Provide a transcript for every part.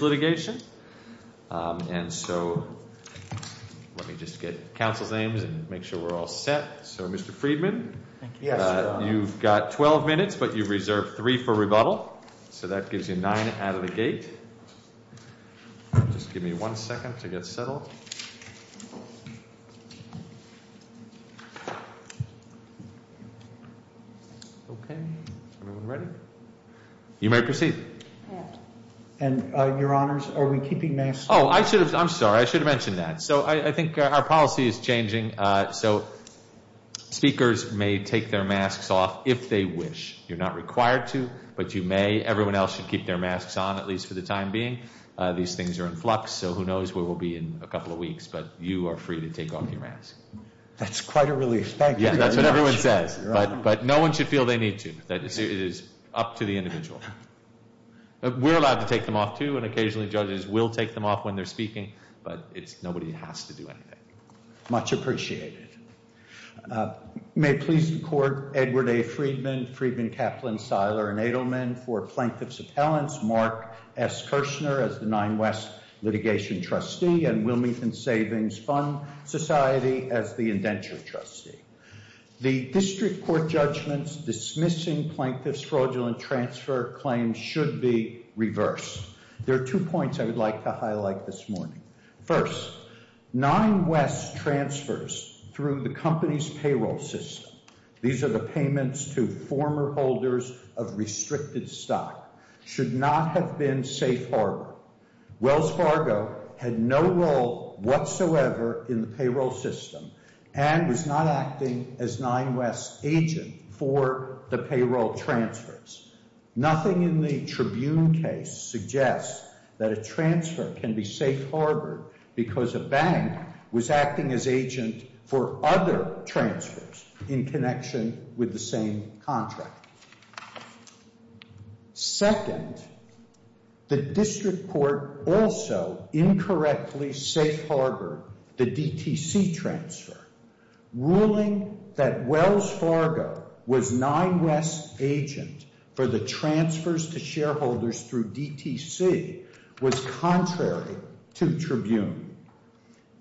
Litigation. And so, let me just get Council's names and make sure we're all set. So, Mr. Friedman, you've got 12 minutes, but you reserved three for rebuttal. So that gives you nine out of the gate. Just give me one second to get settled. Okay, everyone ready? You may proceed. And Your Honors, are we keeping masks? Oh, I should have. I'm sorry. I should have mentioned that. So I think our policy is changing. So speakers may take their masks off if they wish. You're not taking your masks on, at least for the time being. These things are in flux, so who knows where we'll be in a couple of weeks. But you are free to take off your mask. That's quite a relief. Thank you very much. Yeah, that's what everyone says. But no one should feel they need to. It is up to the individual. We're allowed to take them off, too, and occasionally judges will take them off when they're speaking, but nobody has to do anything. Much appreciated. May it please the Court, Edward A. Friedman, Friedman, Kaplan, Seiler, and Edelman for Plaintiff's Appellants, Mark S. Kirshner as the Nine West Litigation Trustee, and Wilmington Savings Fund Society as the Indenture Trustee. The District Court judgments dismissing Plaintiff's fraudulent transfer claims should be reversed. There are two points I would like to highlight this morning. First, Nine West's transfers through the company's payroll system—these are the payments to former holders of restricted stock—should not have been safe harbor. Wells Fargo had no role because a bank was acting as agent for other transfers in connection with the same contract. Second, the District Court also incorrectly safe harbored the DTC transfer. Ruling that Wells Fargo was Nine West's agent for the transfers to shareholders through DTC was contrary to Tribune.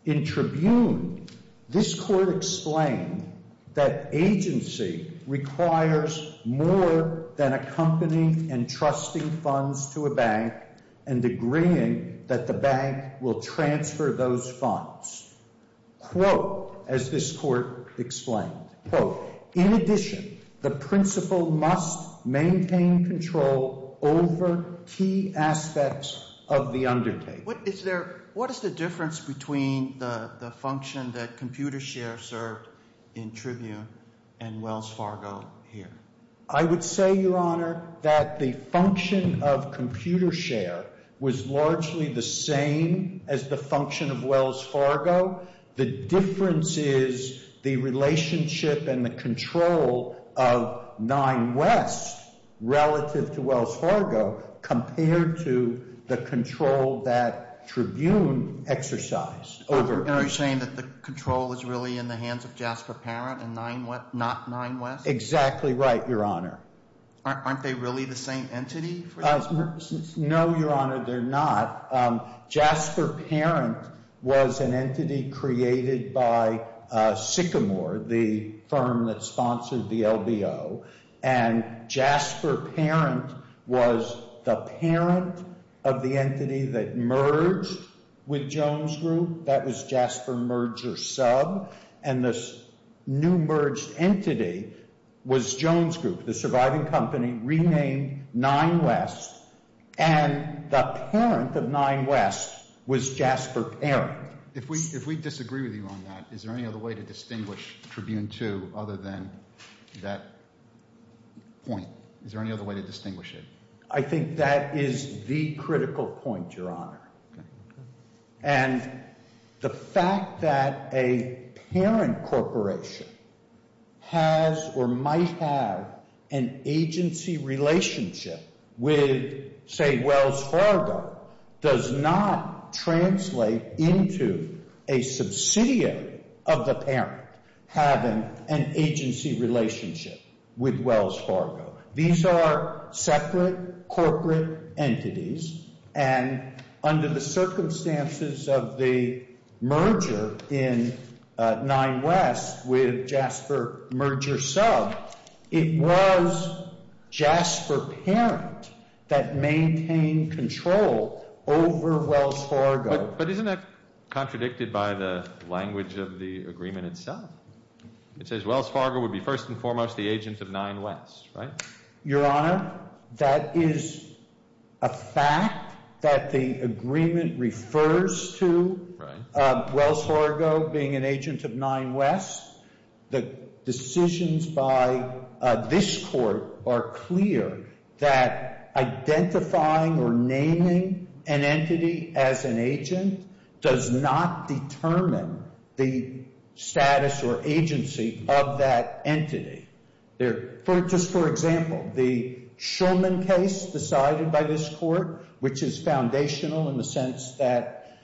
In Tribune, this Court explained that agency requires more than accompanying and trusting funds to a bank and agreeing that the bank will transfer those funds. Quote, as this Court explained, quote, in addition, the principal must maintain control over key aspects of the undertaking. What is the difference between the function that Computershare served in Tribune and Wells Fargo here? I would say, Your Honor, that the function of Computershare was largely the same as the function of Wells Fargo. The difference is the relationship and the control of Nine West relative to Wells Fargo compared to the control that Tribune exercised. Are you saying that the control is really in the hands of Jasper Parent and not Nine West? Exactly right, Your Honor. Aren't they really the same entity? No, Your Honor, they're not. Jasper Parent was an entity created by Sycamore, the firm that sponsored the LBO, and Jasper Parent was the parent of the entity that merged with Jones Group. That was Jasper Merger Sub, and this new merged entity was Jones Group, the surviving company renamed Nine West, and the parent of Nine West was Jasper Parent. If we disagree with you on that, is there any other way to distinguish Tribune II other than that point? Is there any other way to distinguish it? I think that is the critical point, Your Honor, and the fact that a parent corporation has or might have an agency relationship with, say, Wells Fargo, does not translate into a subsidiary of the parent having an agency relationship with Wells Fargo. These are separate corporate entities, and under the circumstances of the merger in Nine West with Jasper Merger Sub, it was Jasper Parent that maintained control over Wells Fargo. But isn't that contradicted by the language of the agreement itself? It says Wells Fargo would be first and foremost the agent of Nine West, right? Just for example, the Shulman case decided by this court, which is foundational in the sense that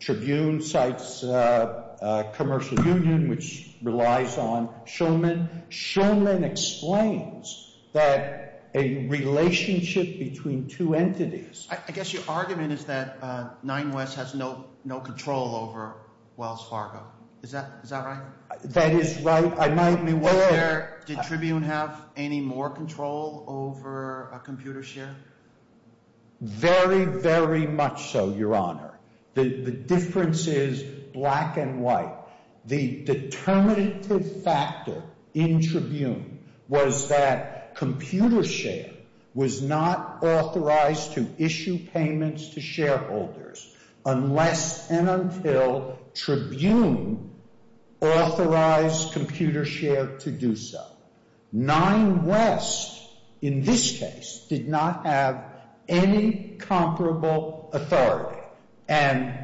Tribune cites Commercial Union, which relies on Shulman. Shulman explains that a relationship between two entities— I guess your argument is that Nine West has no control over Wells Fargo. Is that right? That is right. I might be wrong. Did Tribune have any more control over computer share? Very, very much so, Your Honor. The difference is black and white. The determinative factor in Tribune was that computer share was not authorized to issue payments to shareholders unless and until Tribune authorized computer share to do so. Nine West, in this case, did not have any comparable authority. And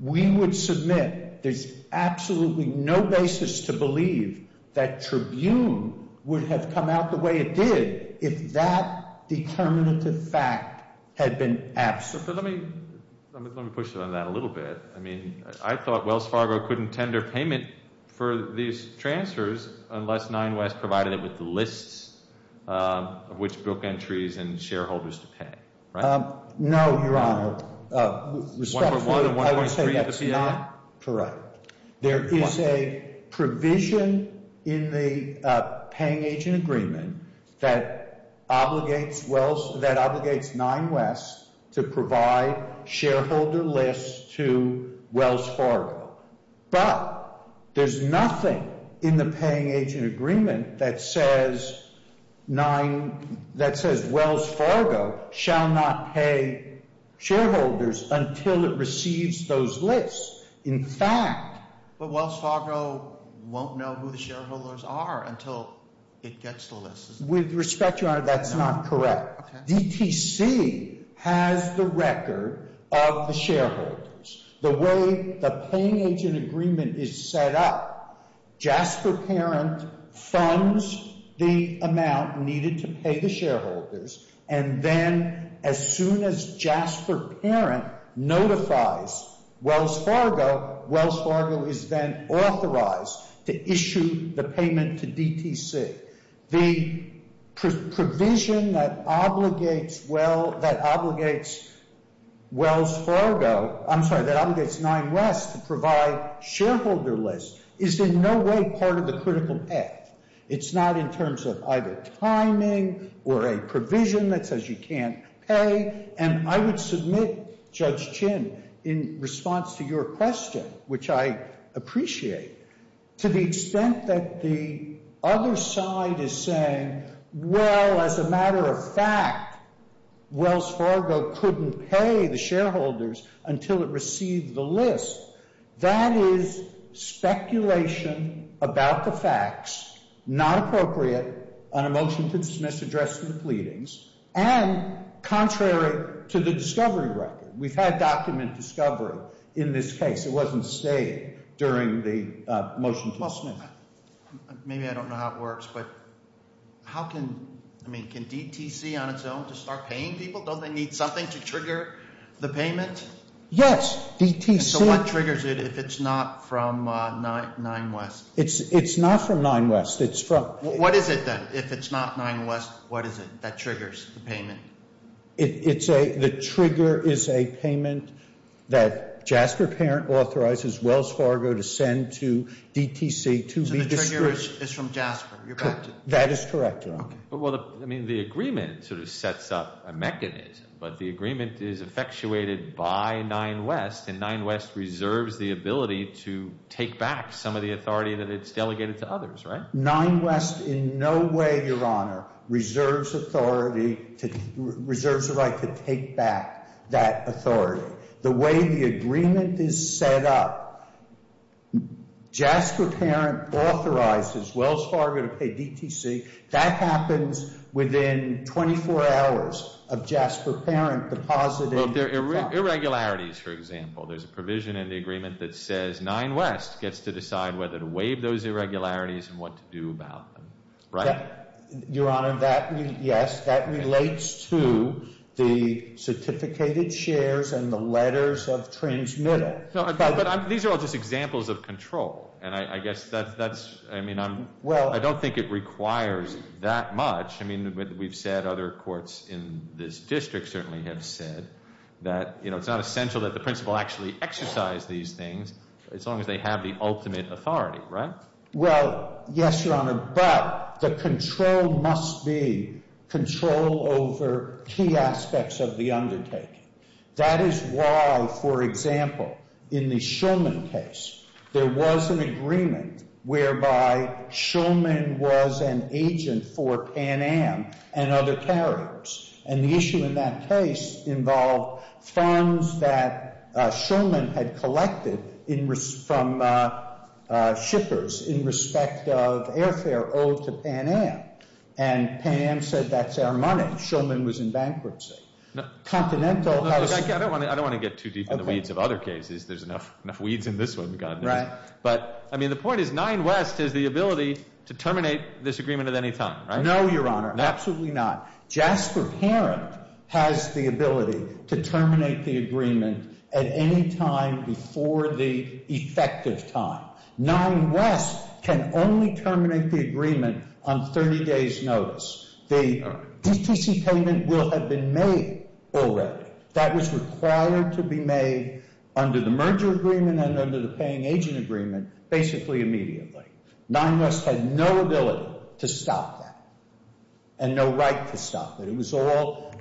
we would submit there's absolutely no basis to believe that Tribune would have come out the way it did if that determinative fact had been absent. Let me push you on that a little bit. I mean, I thought Wells Fargo couldn't tender payment for these transfers unless Nine West provided it with the lists of which book entries and shareholders to pay, right? No, Your Honor. Respectfully, I would say that's not correct. There is a provision in the paying agent agreement that obligates Nine West to provide shareholder lists to Wells Fargo. But there's nothing in the paying agent agreement that says Wells Fargo shall not pay shareholders until it receives those lists. In fact, But Wells Fargo won't know who the shareholders are until it gets the lists. With respect, Your Honor, that's not correct. DTC has the record of the shareholders. The way the paying agent agreement is set up, Jasper Parent funds the amount needed to pay the shareholders. And then as soon as Jasper Parent notifies Wells Fargo, Wells Fargo is then authorized to issue the payment to DTC. The provision that obligates Wells Fargo, I'm sorry, that obligates Nine West to provide shareholder lists is in no way part of the critical act. It's not in terms of either timing or a provision that says you can't pay. And I would submit, Judge Chin, in response to your question, which I appreciate, to the extent that the other side is saying, well, as a matter of fact, Wells Fargo couldn't pay the shareholders until it received the list. That is speculation about the facts, not appropriate on a motion to dismiss addressing the pleadings, and contrary to the discovery record. We've had document discovery in this case. It wasn't stated during the motion to dismiss. Well, maybe I don't know how it works, but how can, I mean, can DTC on its own just start paying people? Don't they need something to trigger the payment? Yes. DTC. So what triggers it if it's not from Nine West? It's not from Nine West. What is it, then, if it's not Nine West, what is it that triggers the payment? The trigger is a payment that Jasper Parent authorizes Wells Fargo to send to DTC to be discouraged. So the trigger is from Jasper. That is correct, Your Honor. Well, I mean, the agreement sort of sets up a mechanism, but the agreement is effectuated by Nine West, and Nine West reserves the ability to take back some of the authority that it's delegated to others, right? Nine West in no way, Your Honor, reserves authority, reserves the right to take back that authority. The way the agreement is set up, Jasper Parent authorizes Wells Fargo to pay DTC. That happens within 24 hours of Jasper Parent depositing. Irregularities, for example. There's a provision in the agreement that says Nine West gets to decide whether to waive those irregularities and what to do about them, right? Your Honor, that, yes, that relates to the certificated shares and the letters of transmittal. No, but these are all just examples of control, and I guess that's, I mean, I don't think it requires that much. I mean, we've said, other courts in this district certainly have said that, you know, it's not essential that the principal actually exercise these things as long as they have the ultimate authority, right? Well, yes, Your Honor, but the control must be control over key aspects of the undertaking. That is why, for example, in the Shulman case, there was an agreement whereby Shulman was an agent for Pan Am and other carriers. And the issue in that case involved funds that Shulman had collected from shippers in respect of airfare owed to Pan Am. And Pan Am said, that's our money. Shulman was in bankruptcy. Continental House— I don't want to get too deep in the weeds of other cases. There's enough weeds in this one, God knows. Right. But, I mean, the point is Nine West has the ability to terminate this agreement at any time, right? No, Your Honor, absolutely not. Jasper Parent has the ability to terminate the agreement at any time before the effective time. Nine West can only terminate the agreement on 30 days' notice. The DTC payment will have been made already. That was required to be made under the merger agreement and under the paying agent agreement basically immediately. Nine West had no ability to stop that and no right to stop it. It was all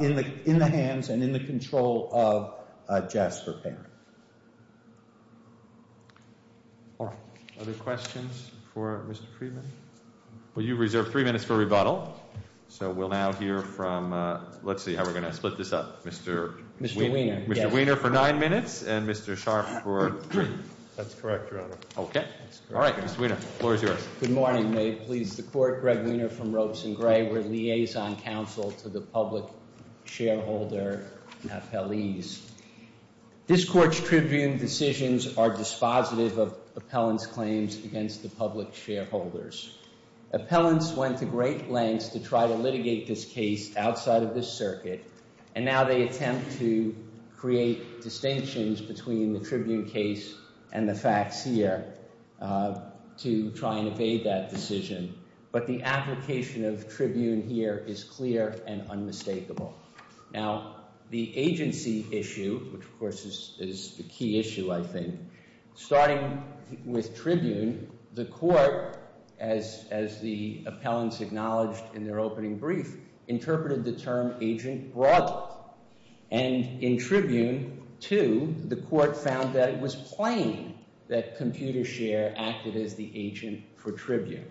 in the hands and in the control of Jasper Parent. All right. Other questions for Mr. Friedman? Well, you reserved three minutes for rebuttal. So we'll now hear from—let's see how we're going to split this up. Mr. Wiener for nine minutes and Mr. Sharpe for— That's correct, Your Honor. Okay. All right, Mr. Wiener. The floor is yours. Good morning. May it please the Court. Greg Wiener from Ropes & Gray. We're a liaison counsel to the public shareholder and appellees. This Court's tribune decisions are dispositive of appellant's claims against the public shareholders. Appellants went to great lengths to try to litigate this case outside of this circuit, and now they attempt to create distinctions between the tribune case and the facts here to try and evade that decision. But the application of tribune here is clear and unmistakable. Now, the agency issue, which, of course, is the key issue, I think, starting with tribune, the Court, as the appellants acknowledged in their opening brief, interpreted the term agent broadly. And in tribune two, the Court found that it was plain that ComputerShare acted as the agent for tribune.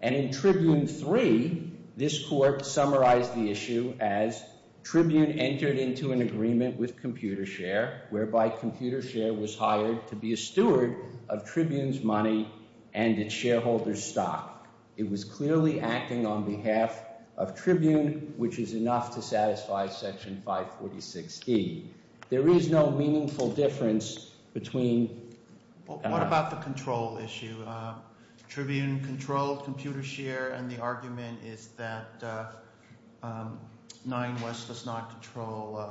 And in tribune three, this Court summarized the issue as tribune entered into an agreement with ComputerShare, whereby ComputerShare was hired to be a steward of tribune's money and its shareholder's stock. It was clearly acting on behalf of tribune, which is enough to satisfy Section 546E. There is no meaningful difference between- What about the control issue? Tribune controlled ComputerShare, and the argument is that Nine West does not control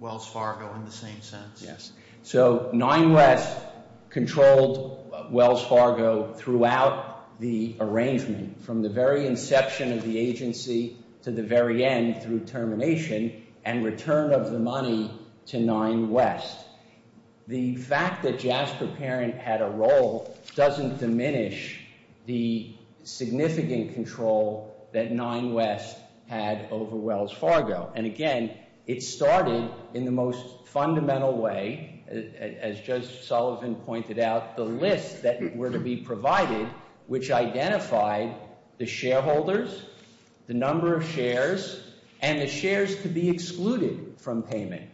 Wells Fargo in the same sense. Yes. So Nine West controlled Wells Fargo throughout the arrangement, from the very inception of the agency to the very end through termination and return of the money to Nine West. The fact that Jasper Parent had a role doesn't diminish the significant control that Nine West had over Wells Fargo. And again, it started in the most fundamental way, as Judge Sullivan pointed out, the list that were to be provided, which identified the shareholders, the number of shares, and the shares to be excluded from payment.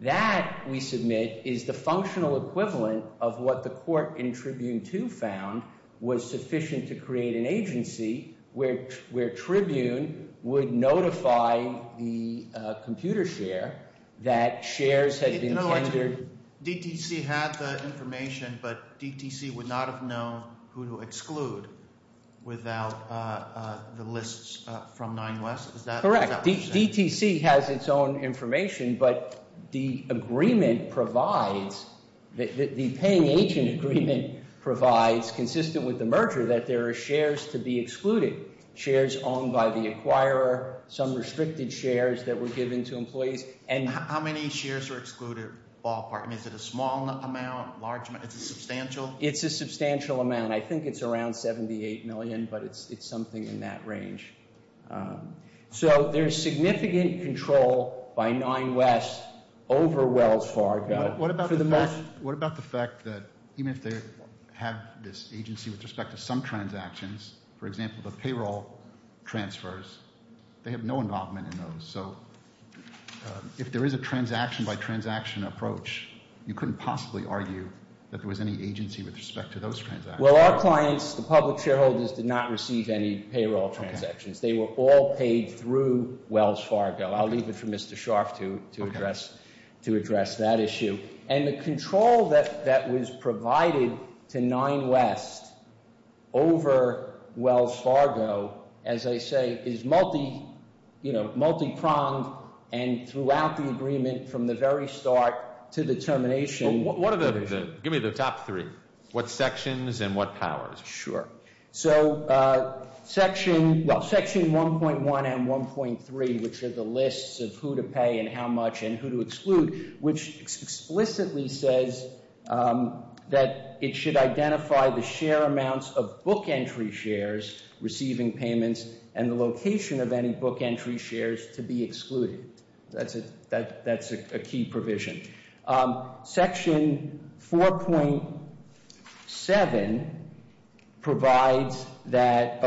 That, we submit, is the functional equivalent of what the court in Tribune 2 found was sufficient to create an agency where tribune would notify the ComputerShare that shares had been tendered- Did you know that DTC had the information, but DTC would not have known who to exclude without the lists from Nine West? Correct. DTC has its own information, but the agreement provides, the paying agent agreement provides, consistent with the merger, that there are shares to be excluded. Shares owned by the acquirer, some restricted shares that were given to employees, and- How many shares are excluded, ballpark? Is it a small amount, large amount? Is it substantial? It's a substantial amount. I think it's around 78 million, but it's something in that range. So there's significant control by Nine West over Wells Fargo. What about the fact that even if they have this agency with respect to some transactions, for example, the payroll transfers, they have no involvement in those. So if there is a transaction-by-transaction approach, you couldn't possibly argue that there was any agency with respect to those transactions. Well, our clients, the public shareholders, did not receive any payroll transactions. They were all paid through Wells Fargo. I'll leave it for Mr. Scharf to address that issue. And the control that was provided to Nine West over Wells Fargo, as I say, is multi-pronged, and throughout the agreement from the very start to the termination- Give me the top three. What sections and what powers? Sure. So Section 1.1 and 1.3, which are the lists of who to pay and how much and who to exclude, which explicitly says that it should identify the share amounts of book entry shares receiving payments and the location of any book entry shares to be excluded. That's a key provision. Section 4.7 provides that-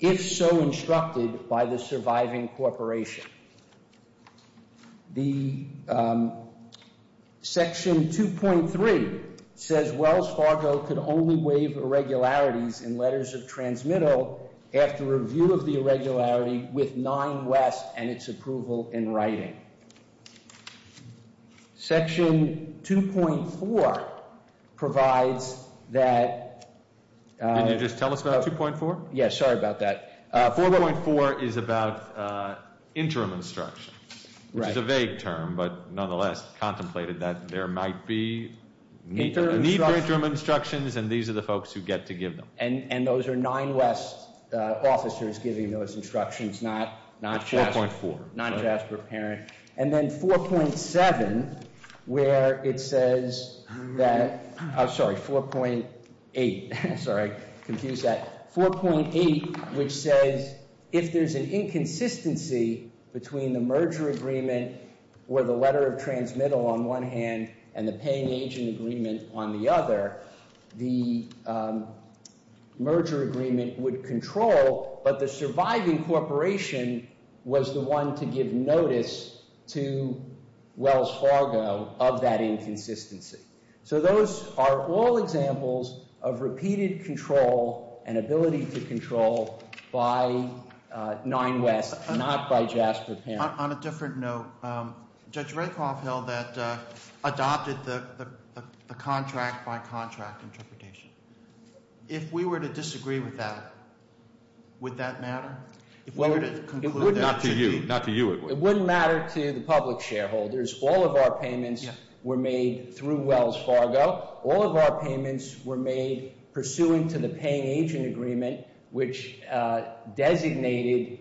if so instructed by the surviving corporation. Section 2.3 says Wells Fargo could only waive irregularities in letters of transmittal after review of the irregularity with Nine West and its approval in writing. Section 2.4 provides that- Can you just tell us about 2.4? Yes, sorry about that. 4.4 is about interim instructions. Right. It's a vague term, but nonetheless contemplated that there might be need for interim instructions, and these are the folks who get to give them. And those are Nine West officers giving those instructions, not Jasper Parent. And then 4.7, where it says that- I'm sorry, 4.8. Sorry, I confused that. 4.8, which says if there's an inconsistency between the merger agreement or the letter of transmittal on one hand and the paying agent agreement on the other, the merger agreement would control, but the surviving corporation was the one to give notice to Wells Fargo of that inconsistency. So those are all examples of repeated control and ability to control by Nine West, not by Jasper Parent. On a different note, Judge Rakoff held that adopted the contract by contract interpretation. If we were to disagree with that, would that matter? If we were to conclude that- Not to you. Not to you, Edward. It wouldn't matter to the public shareholders. All of our payments were made through Wells Fargo. All of our payments were made pursuant to the paying agent agreement, which designated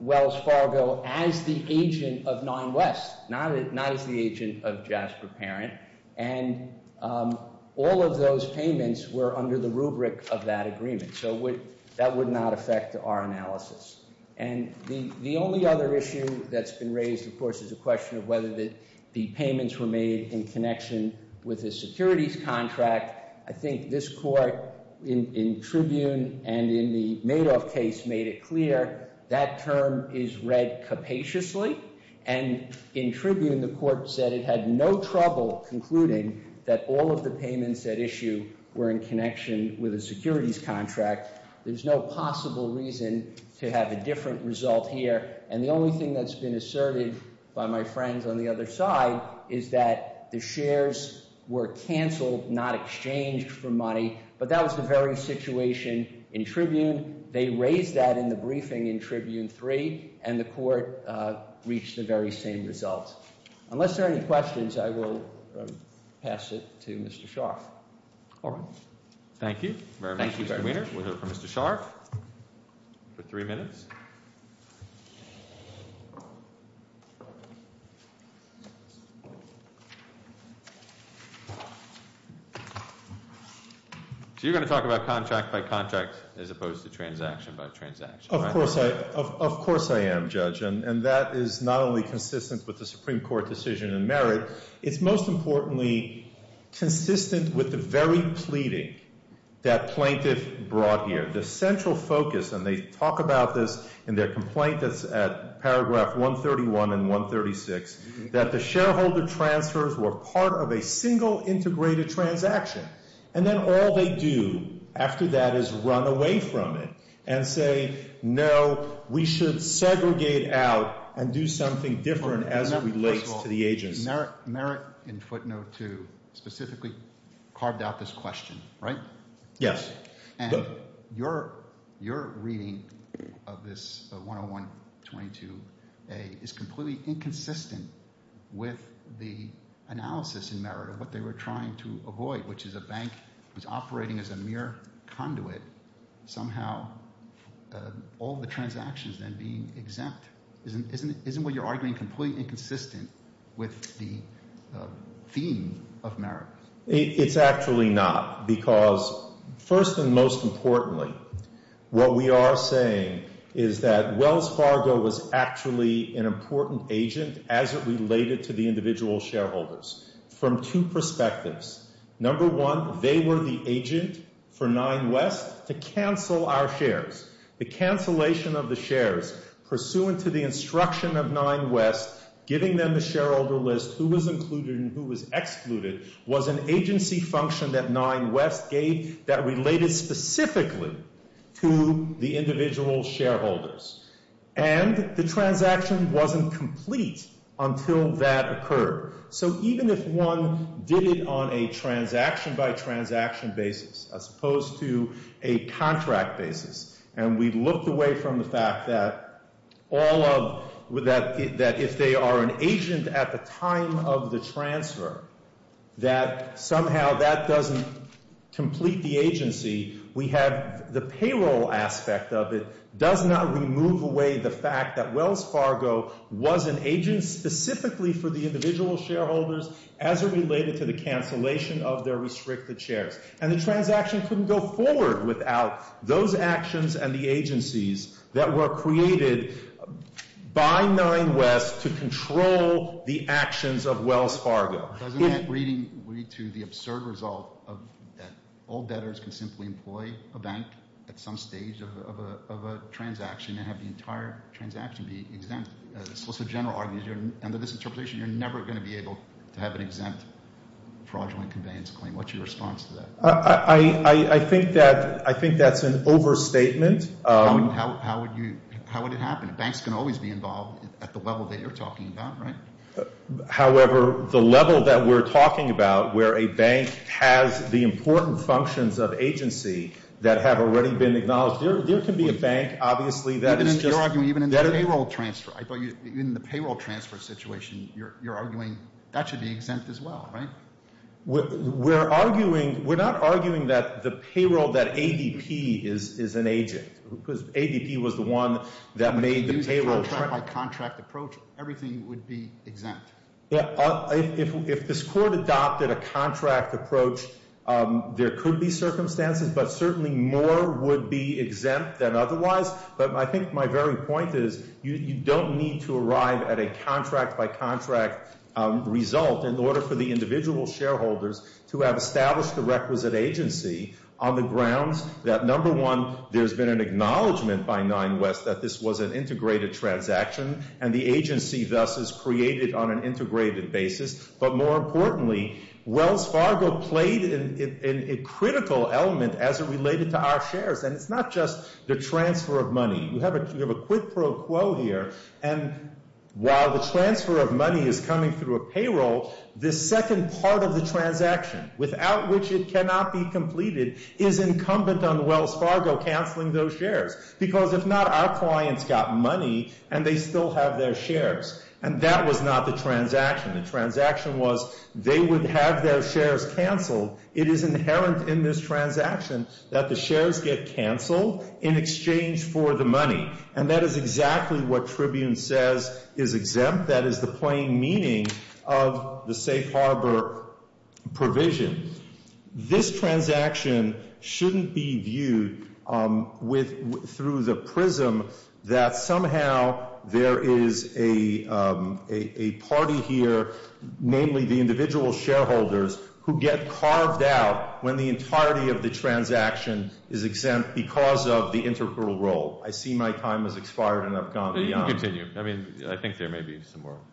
Wells Fargo as the agent of Nine West, not as the agent of Jasper Parent. And all of those payments were under the rubric of that agreement. So that would not affect our analysis. And the only other issue that's been raised, of course, is the question of whether the payments were made in connection with the securities contract. In fact, I think this court in Tribune and in the Madoff case made it clear that term is read capaciously. And in Tribune, the court said it had no trouble concluding that all of the payments at issue were in connection with a securities contract. There's no possible reason to have a different result here. And the only thing that's been asserted by my friends on the other side is that the shares were canceled, not exchanged for money. But that was the very situation in Tribune. They raised that in the briefing in Tribune 3, and the court reached the very same results. Unless there are any questions, I will pass it to Mr. Scharf. All right. Thank you. Thank you very much. We'll hear from Mr. Scharf for three minutes. So you're going to talk about contract by contract as opposed to transaction by transaction, right? Of course I am, Judge. And that is not only consistent with the Supreme Court decision in Merritt. It's most importantly consistent with the very pleading that plaintiff brought here. And they talk about this in their complaint that's at paragraph 131 and 136, that the shareholder transfers were part of a single integrated transaction. And then all they do after that is run away from it and say, no, we should segregate out and do something different as it relates to the agency. First of all, Merritt in footnote 2 specifically carved out this question, right? Yes. And your reading of this 101-22a is completely inconsistent with the analysis in Merritt of what they were trying to avoid, which is a bank that's operating as a mere conduit, somehow all the transactions then being exempt. Isn't what you're arguing completely inconsistent with the theme of Merritt? It's actually not. Because first and most importantly, what we are saying is that Wells Fargo was actually an important agent as it related to the individual shareholders from two perspectives. Number one, they were the agent for Nine West to cancel our shares. The cancellation of the shares pursuant to the instruction of Nine West, giving them the shareholder list, who was included and who was excluded, was an agency function that Nine West gave that related specifically to the individual shareholders. And the transaction wasn't complete until that occurred. So even if one did it on a transaction-by-transaction basis as opposed to a contract basis, and we looked away from the fact that if they are an agent at the time of the transfer, that somehow that doesn't complete the agency. The payroll aspect of it does not remove away the fact that Wells Fargo was an agent specifically for the individual shareholders as it related to the cancellation of their restricted shares. And the transaction couldn't go forward without those actions and the agencies that were created by Nine West to control the actions of Wells Fargo. Doesn't that read to the absurd result that all debtors can simply employ a bank at some stage of a transaction and have the entire transaction be exempt? The Solicitor General argues under this interpretation you're never going to be able to have an exempt fraudulent conveyance claim. What's your response to that? I think that's an overstatement. How would it happen? Banks can always be involved at the level that you're talking about, right? However, the level that we're talking about where a bank has the important functions of agency that have already been acknowledged, there can be a bank, obviously, that is just- You're arguing even in the payroll transfer. In the payroll transfer situation, you're arguing that should be exempt as well, right? We're arguing, we're not arguing that the payroll, that ADP is an agent because ADP was the one that made the payroll- Contract-by-contract approach, everything would be exempt. If this court adopted a contract approach, there could be circumstances, but certainly more would be exempt than otherwise. But I think my very point is you don't need to arrive at a contract-by-contract result in order for the individual shareholders to have established a requisite agency on the grounds that, number one, there's been an acknowledgment by Nine West that this was an integrated transaction, and the agency thus is created on an integrated basis. But more importantly, Wells Fargo played a critical element as it related to our shares, and it's not just the transfer of money. You have a quid pro quo here, and while the transfer of money is coming through a payroll, the second part of the transaction, without which it cannot be completed, is incumbent on Wells Fargo canceling those shares. Because if not, our clients got money, and they still have their shares, and that was not the transaction. The transaction was they would have their shares canceled. It is inherent in this transaction that the shares get canceled in exchange for the money, and that is exactly what Tribune says is exempt. That is the plain meaning of the safe harbor provision. This transaction shouldn't be viewed through the prism that somehow there is a party here, namely the individual shareholders, who get carved out when the entirety of the transaction is exempt because of the integral role. I see my time has expired, and I've gone beyond. You can continue. I mean, I think there may be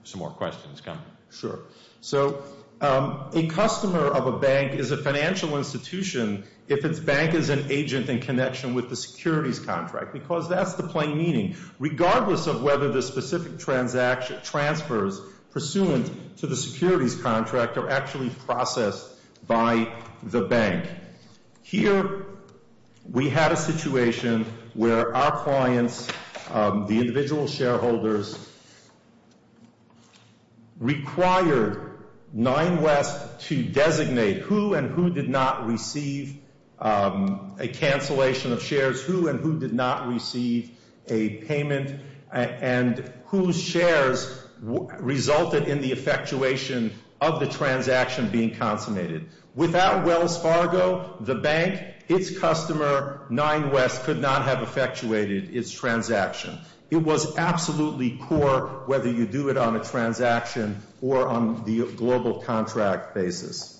some more questions coming. Sure. So a customer of a bank is a financial institution if its bank is an agent in connection with the securities contract because that's the plain meaning, regardless of whether the specific transfers pursuant to the securities contract are actually processed by the bank. Here we have a situation where our clients, the individual shareholders, required Nine West to designate who and who did not receive a cancellation of shares, who and who did not receive a payment, and whose shares resulted in the effectuation of the transaction being consummated. Without Wells Fargo, the bank, its customer, Nine West could not have effectuated its transaction. It was absolutely core whether you do it on a transaction or on the global contract basis.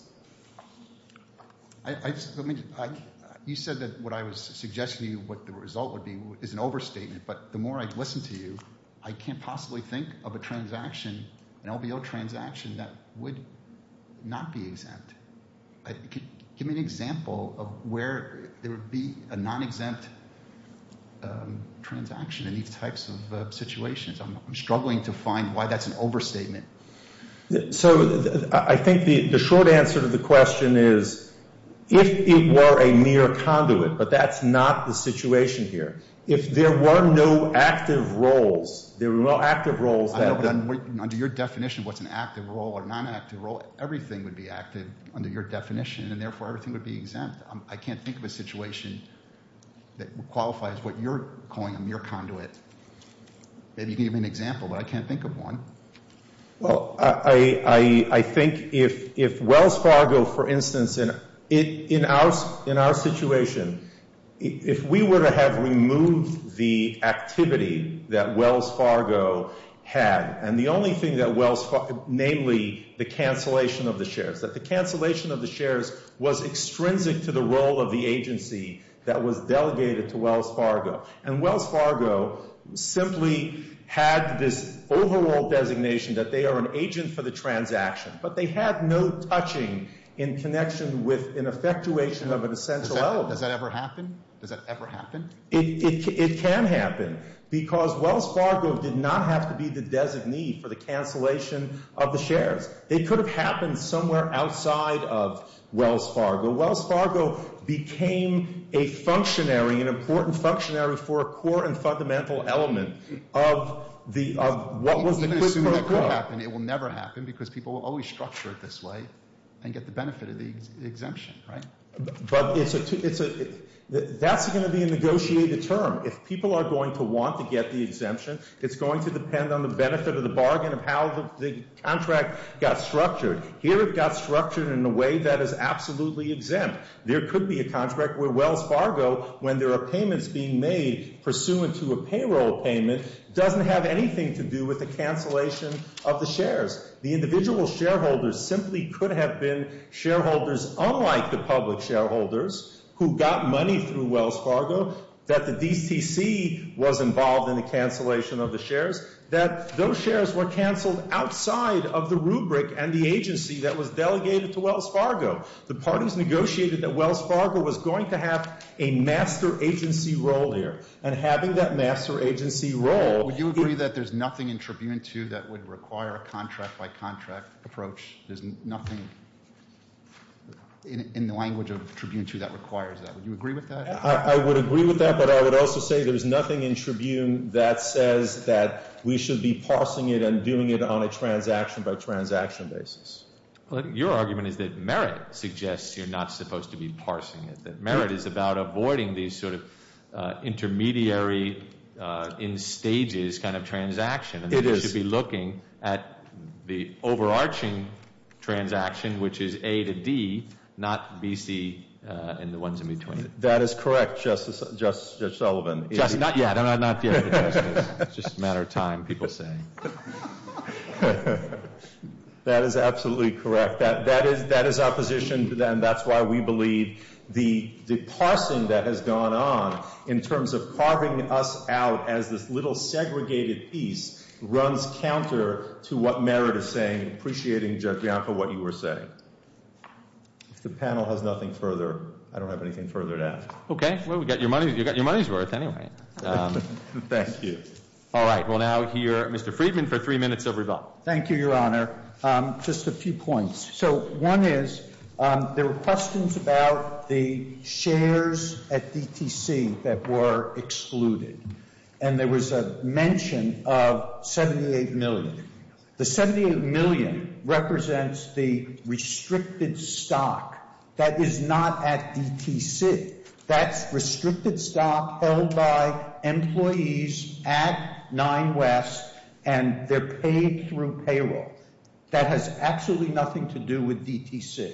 You said that what I was suggesting to you, what the result would be, is an overstatement, but the more I listen to you, I can't possibly think of a transaction, an LBO transaction, that would not be exempt. Give me an example of where there would be a non-exempt transaction in these types of situations. I'm struggling to find why that's an overstatement. So I think the short answer to the question is if it were a mere conduit, but that's not the situation here. If there were no active roles, there were no active roles. Under your definition, what's an active role or non-active role, everything would be active under your definition, and therefore everything would be exempt. I can't think of a situation that qualifies what you're calling a mere conduit. Maybe you can give me an example, but I can't think of one. Well, I think if Wells Fargo, for instance, in our situation, if we were to have removed the activity that Wells Fargo had, and the only thing that Wells Fargo, namely the cancellation of the shares, that the cancellation of the shares was extrinsic to the role of the agency that was delegated to Wells Fargo, and Wells Fargo simply had this overall designation that they are an agent for the transaction, but they had no touching in connection with an effectuation of an essential element. Does that ever happen? Does that ever happen? It can happen, because Wells Fargo did not have to be the designee for the cancellation of the shares. It could have happened somewhere outside of Wells Fargo. Wells Fargo became a functionary, an important functionary for a core and fundamental element of what was the quid pro quo. People are going to assume it could happen. It will never happen, because people will always structure it this way and get the benefit of the exemption, right? But that's going to be a negotiated term. If people are going to want to get the exemption, it's going to depend on the benefit of the bargain of how the contract got structured. Here it got structured in a way that is absolutely exempt. There could be a contract where Wells Fargo, when there are payments being made pursuant to a payroll payment, doesn't have anything to do with the cancellation of the shares. The individual shareholders simply could have been shareholders unlike the public shareholders who got money through Wells Fargo, that the DSTC was involved in the cancellation of the shares, that those shares were canceled outside of the rubric and the agency that was delegated to Wells Fargo. The parties negotiated that Wells Fargo was going to have a master agency role here, and having that master agency role. Would you agree that there's nothing in Tribune 2 that would require a contract-by-contract approach? There's nothing in the language of Tribune 2 that requires that. Would you agree with that? I would agree with that, but I would also say there's nothing in Tribune that says that we should be parsing it and doing it on a transaction-by-transaction basis. Your argument is that merit suggests you're not supposed to be parsing it, that merit is about avoiding these sort of intermediary in stages kind of transactions. It is. You should be looking at the overarching transaction, which is A to D, not B, C, and the ones in between. That is correct, Justice Sullivan. Not yet, not yet. It's just a matter of time, people say. That is absolutely correct. That is our position, and that's why we believe the parsing that has gone on in terms of carving us out as this little segregated piece runs counter to what merit is saying, appreciating, Judge Bianco, what you were saying. If the panel has nothing further, I don't have anything further to ask. Okay. Well, you've got your money's worth, anyway. Thank you. All right. We'll now hear Mr. Friedman for three minutes of rebuttal. Thank you, Your Honor. Just a few points. So one is there were questions about the shares at DTC that were excluded, and there was a mention of $78 million. The $78 million represents the restricted stock that is not at DTC. That's restricted stock held by employees at Nine West, and they're paid through payroll. That has absolutely nothing to do with DTC.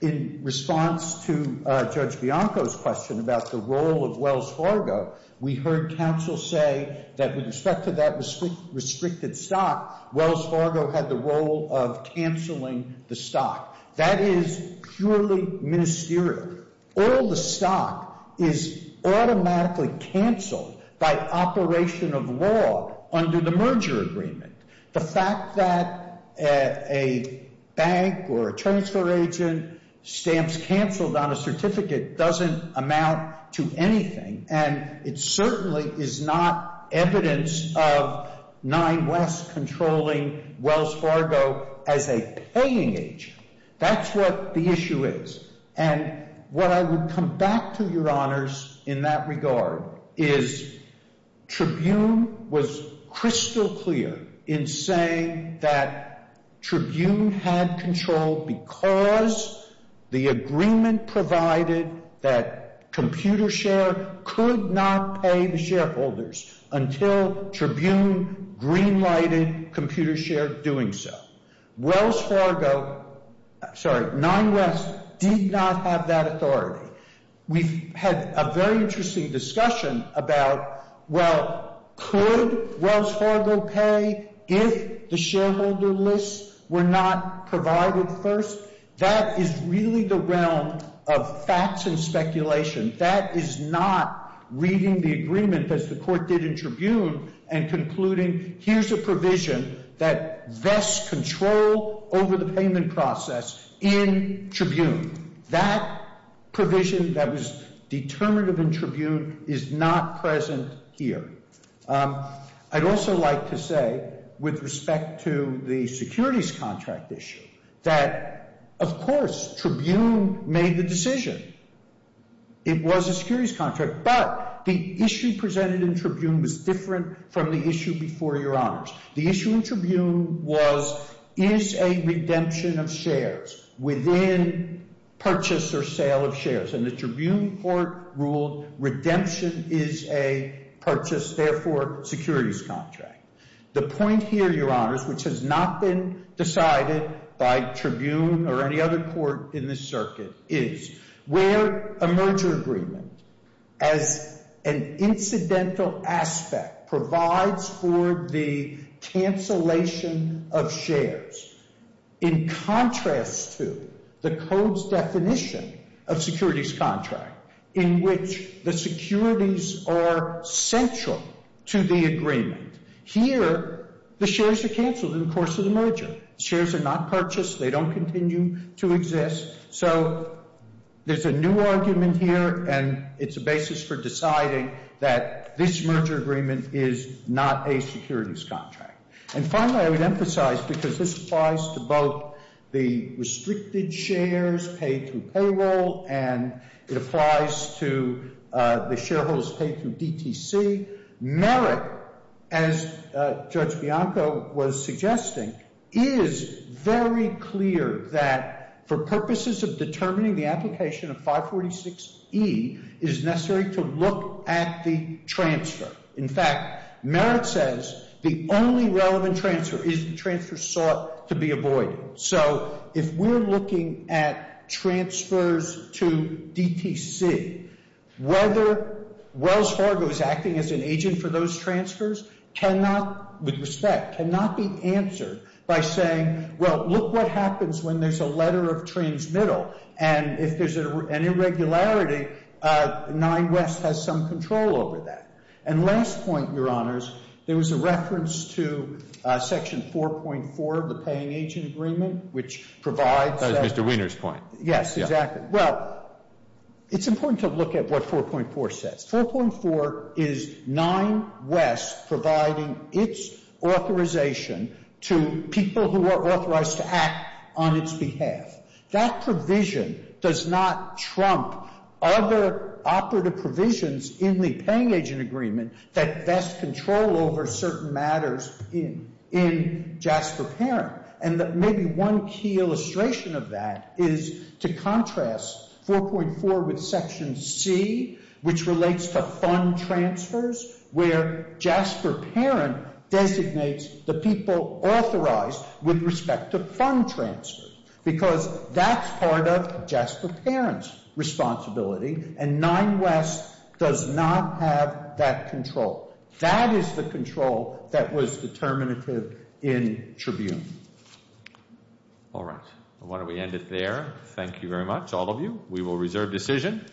In response to Judge Bianco's question about the role of Wells Fargo, we heard counsel say that with respect to that restricted stock, Wells Fargo had the role of canceling the stock. That is purely ministerial. All the stock is automatically canceled by operation of law under the merger agreement. The fact that a bank or a transfer agent stamps canceled on a certificate doesn't amount to anything, and it certainly is not evidence of Nine West controlling Wells Fargo as a paying agent. That's what the issue is. And what I would come back to, Your Honors, in that regard, is Tribune was crystal clear in saying that Tribune had control because the agreement provided that ComputerShare could not pay the shareholders until Tribune green-lighted ComputerShare doing so. Wells Fargo—sorry, Nine West did not have that authority. We've had a very interesting discussion about, well, could Wells Fargo pay if the shareholder lists were not provided first? That is really the realm of facts and speculation. That is not reading the agreement, as the Court did in Tribune, and concluding, here's a provision that vests control over the payment process in Tribune. That provision that was determinative in Tribune is not present here. I'd also like to say, with respect to the securities contract issue, that, of course, Tribune made the decision. It was a securities contract, but the issue presented in Tribune was different from the issue before, Your Honors. The issue in Tribune was, is a redemption of shares within purchase or sale of shares? And the Tribune Court ruled redemption is a purchase, therefore, securities contract. The point here, Your Honors, which has not been decided by Tribune or any other court in this circuit, is where a merger agreement, as an incidental aspect, provides for the cancellation of shares, in contrast to the Code's definition of securities contract, in which the securities are central to the agreement. Here, the shares are canceled in the course of the merger. The shares are not purchased. They don't continue to exist. So there's a new argument here, and it's a basis for deciding that this merger agreement is not a securities contract. And finally, I would emphasize, because this applies to both the restricted shares paid through payroll, and it applies to the shareholders paid through DTC, merit, as Judge Bianco was suggesting, is very clear that for purposes of determining the application of 546E, it is necessary to look at the transfer. In fact, merit says the only relevant transfer is the transfer sought to be avoided. So if we're looking at transfers to DTC, whether Wells Fargo is acting as an agent for those transfers cannot, with respect, cannot be answered by saying, well, look what happens when there's a letter of transmittal. And if there's an irregularity, Nine West has some control over that. And last point, Your Honors, there was a reference to Section 4.4 of the Paying Agent Agreement, which provides that. That was Mr. Weiner's point. Yes, exactly. Well, it's important to look at what 4.4 says. 4.4 is Nine West providing its authorization to people who are authorized to act on its behalf. That provision does not trump other operative provisions in the Paying Agent Agreement that best control over certain matters in JASPER Parent. And maybe one key illustration of that is to contrast 4.4 with Section C, which relates to fund transfers, where JASPER Parent designates the people authorized with respect to fund transfers. Because that's part of JASPER Parent's responsibility, and Nine West does not have that control. That is the control that was determinative in Tribune. All right. Why don't we end it there? Thank you very much, all of you. We will reserve decision.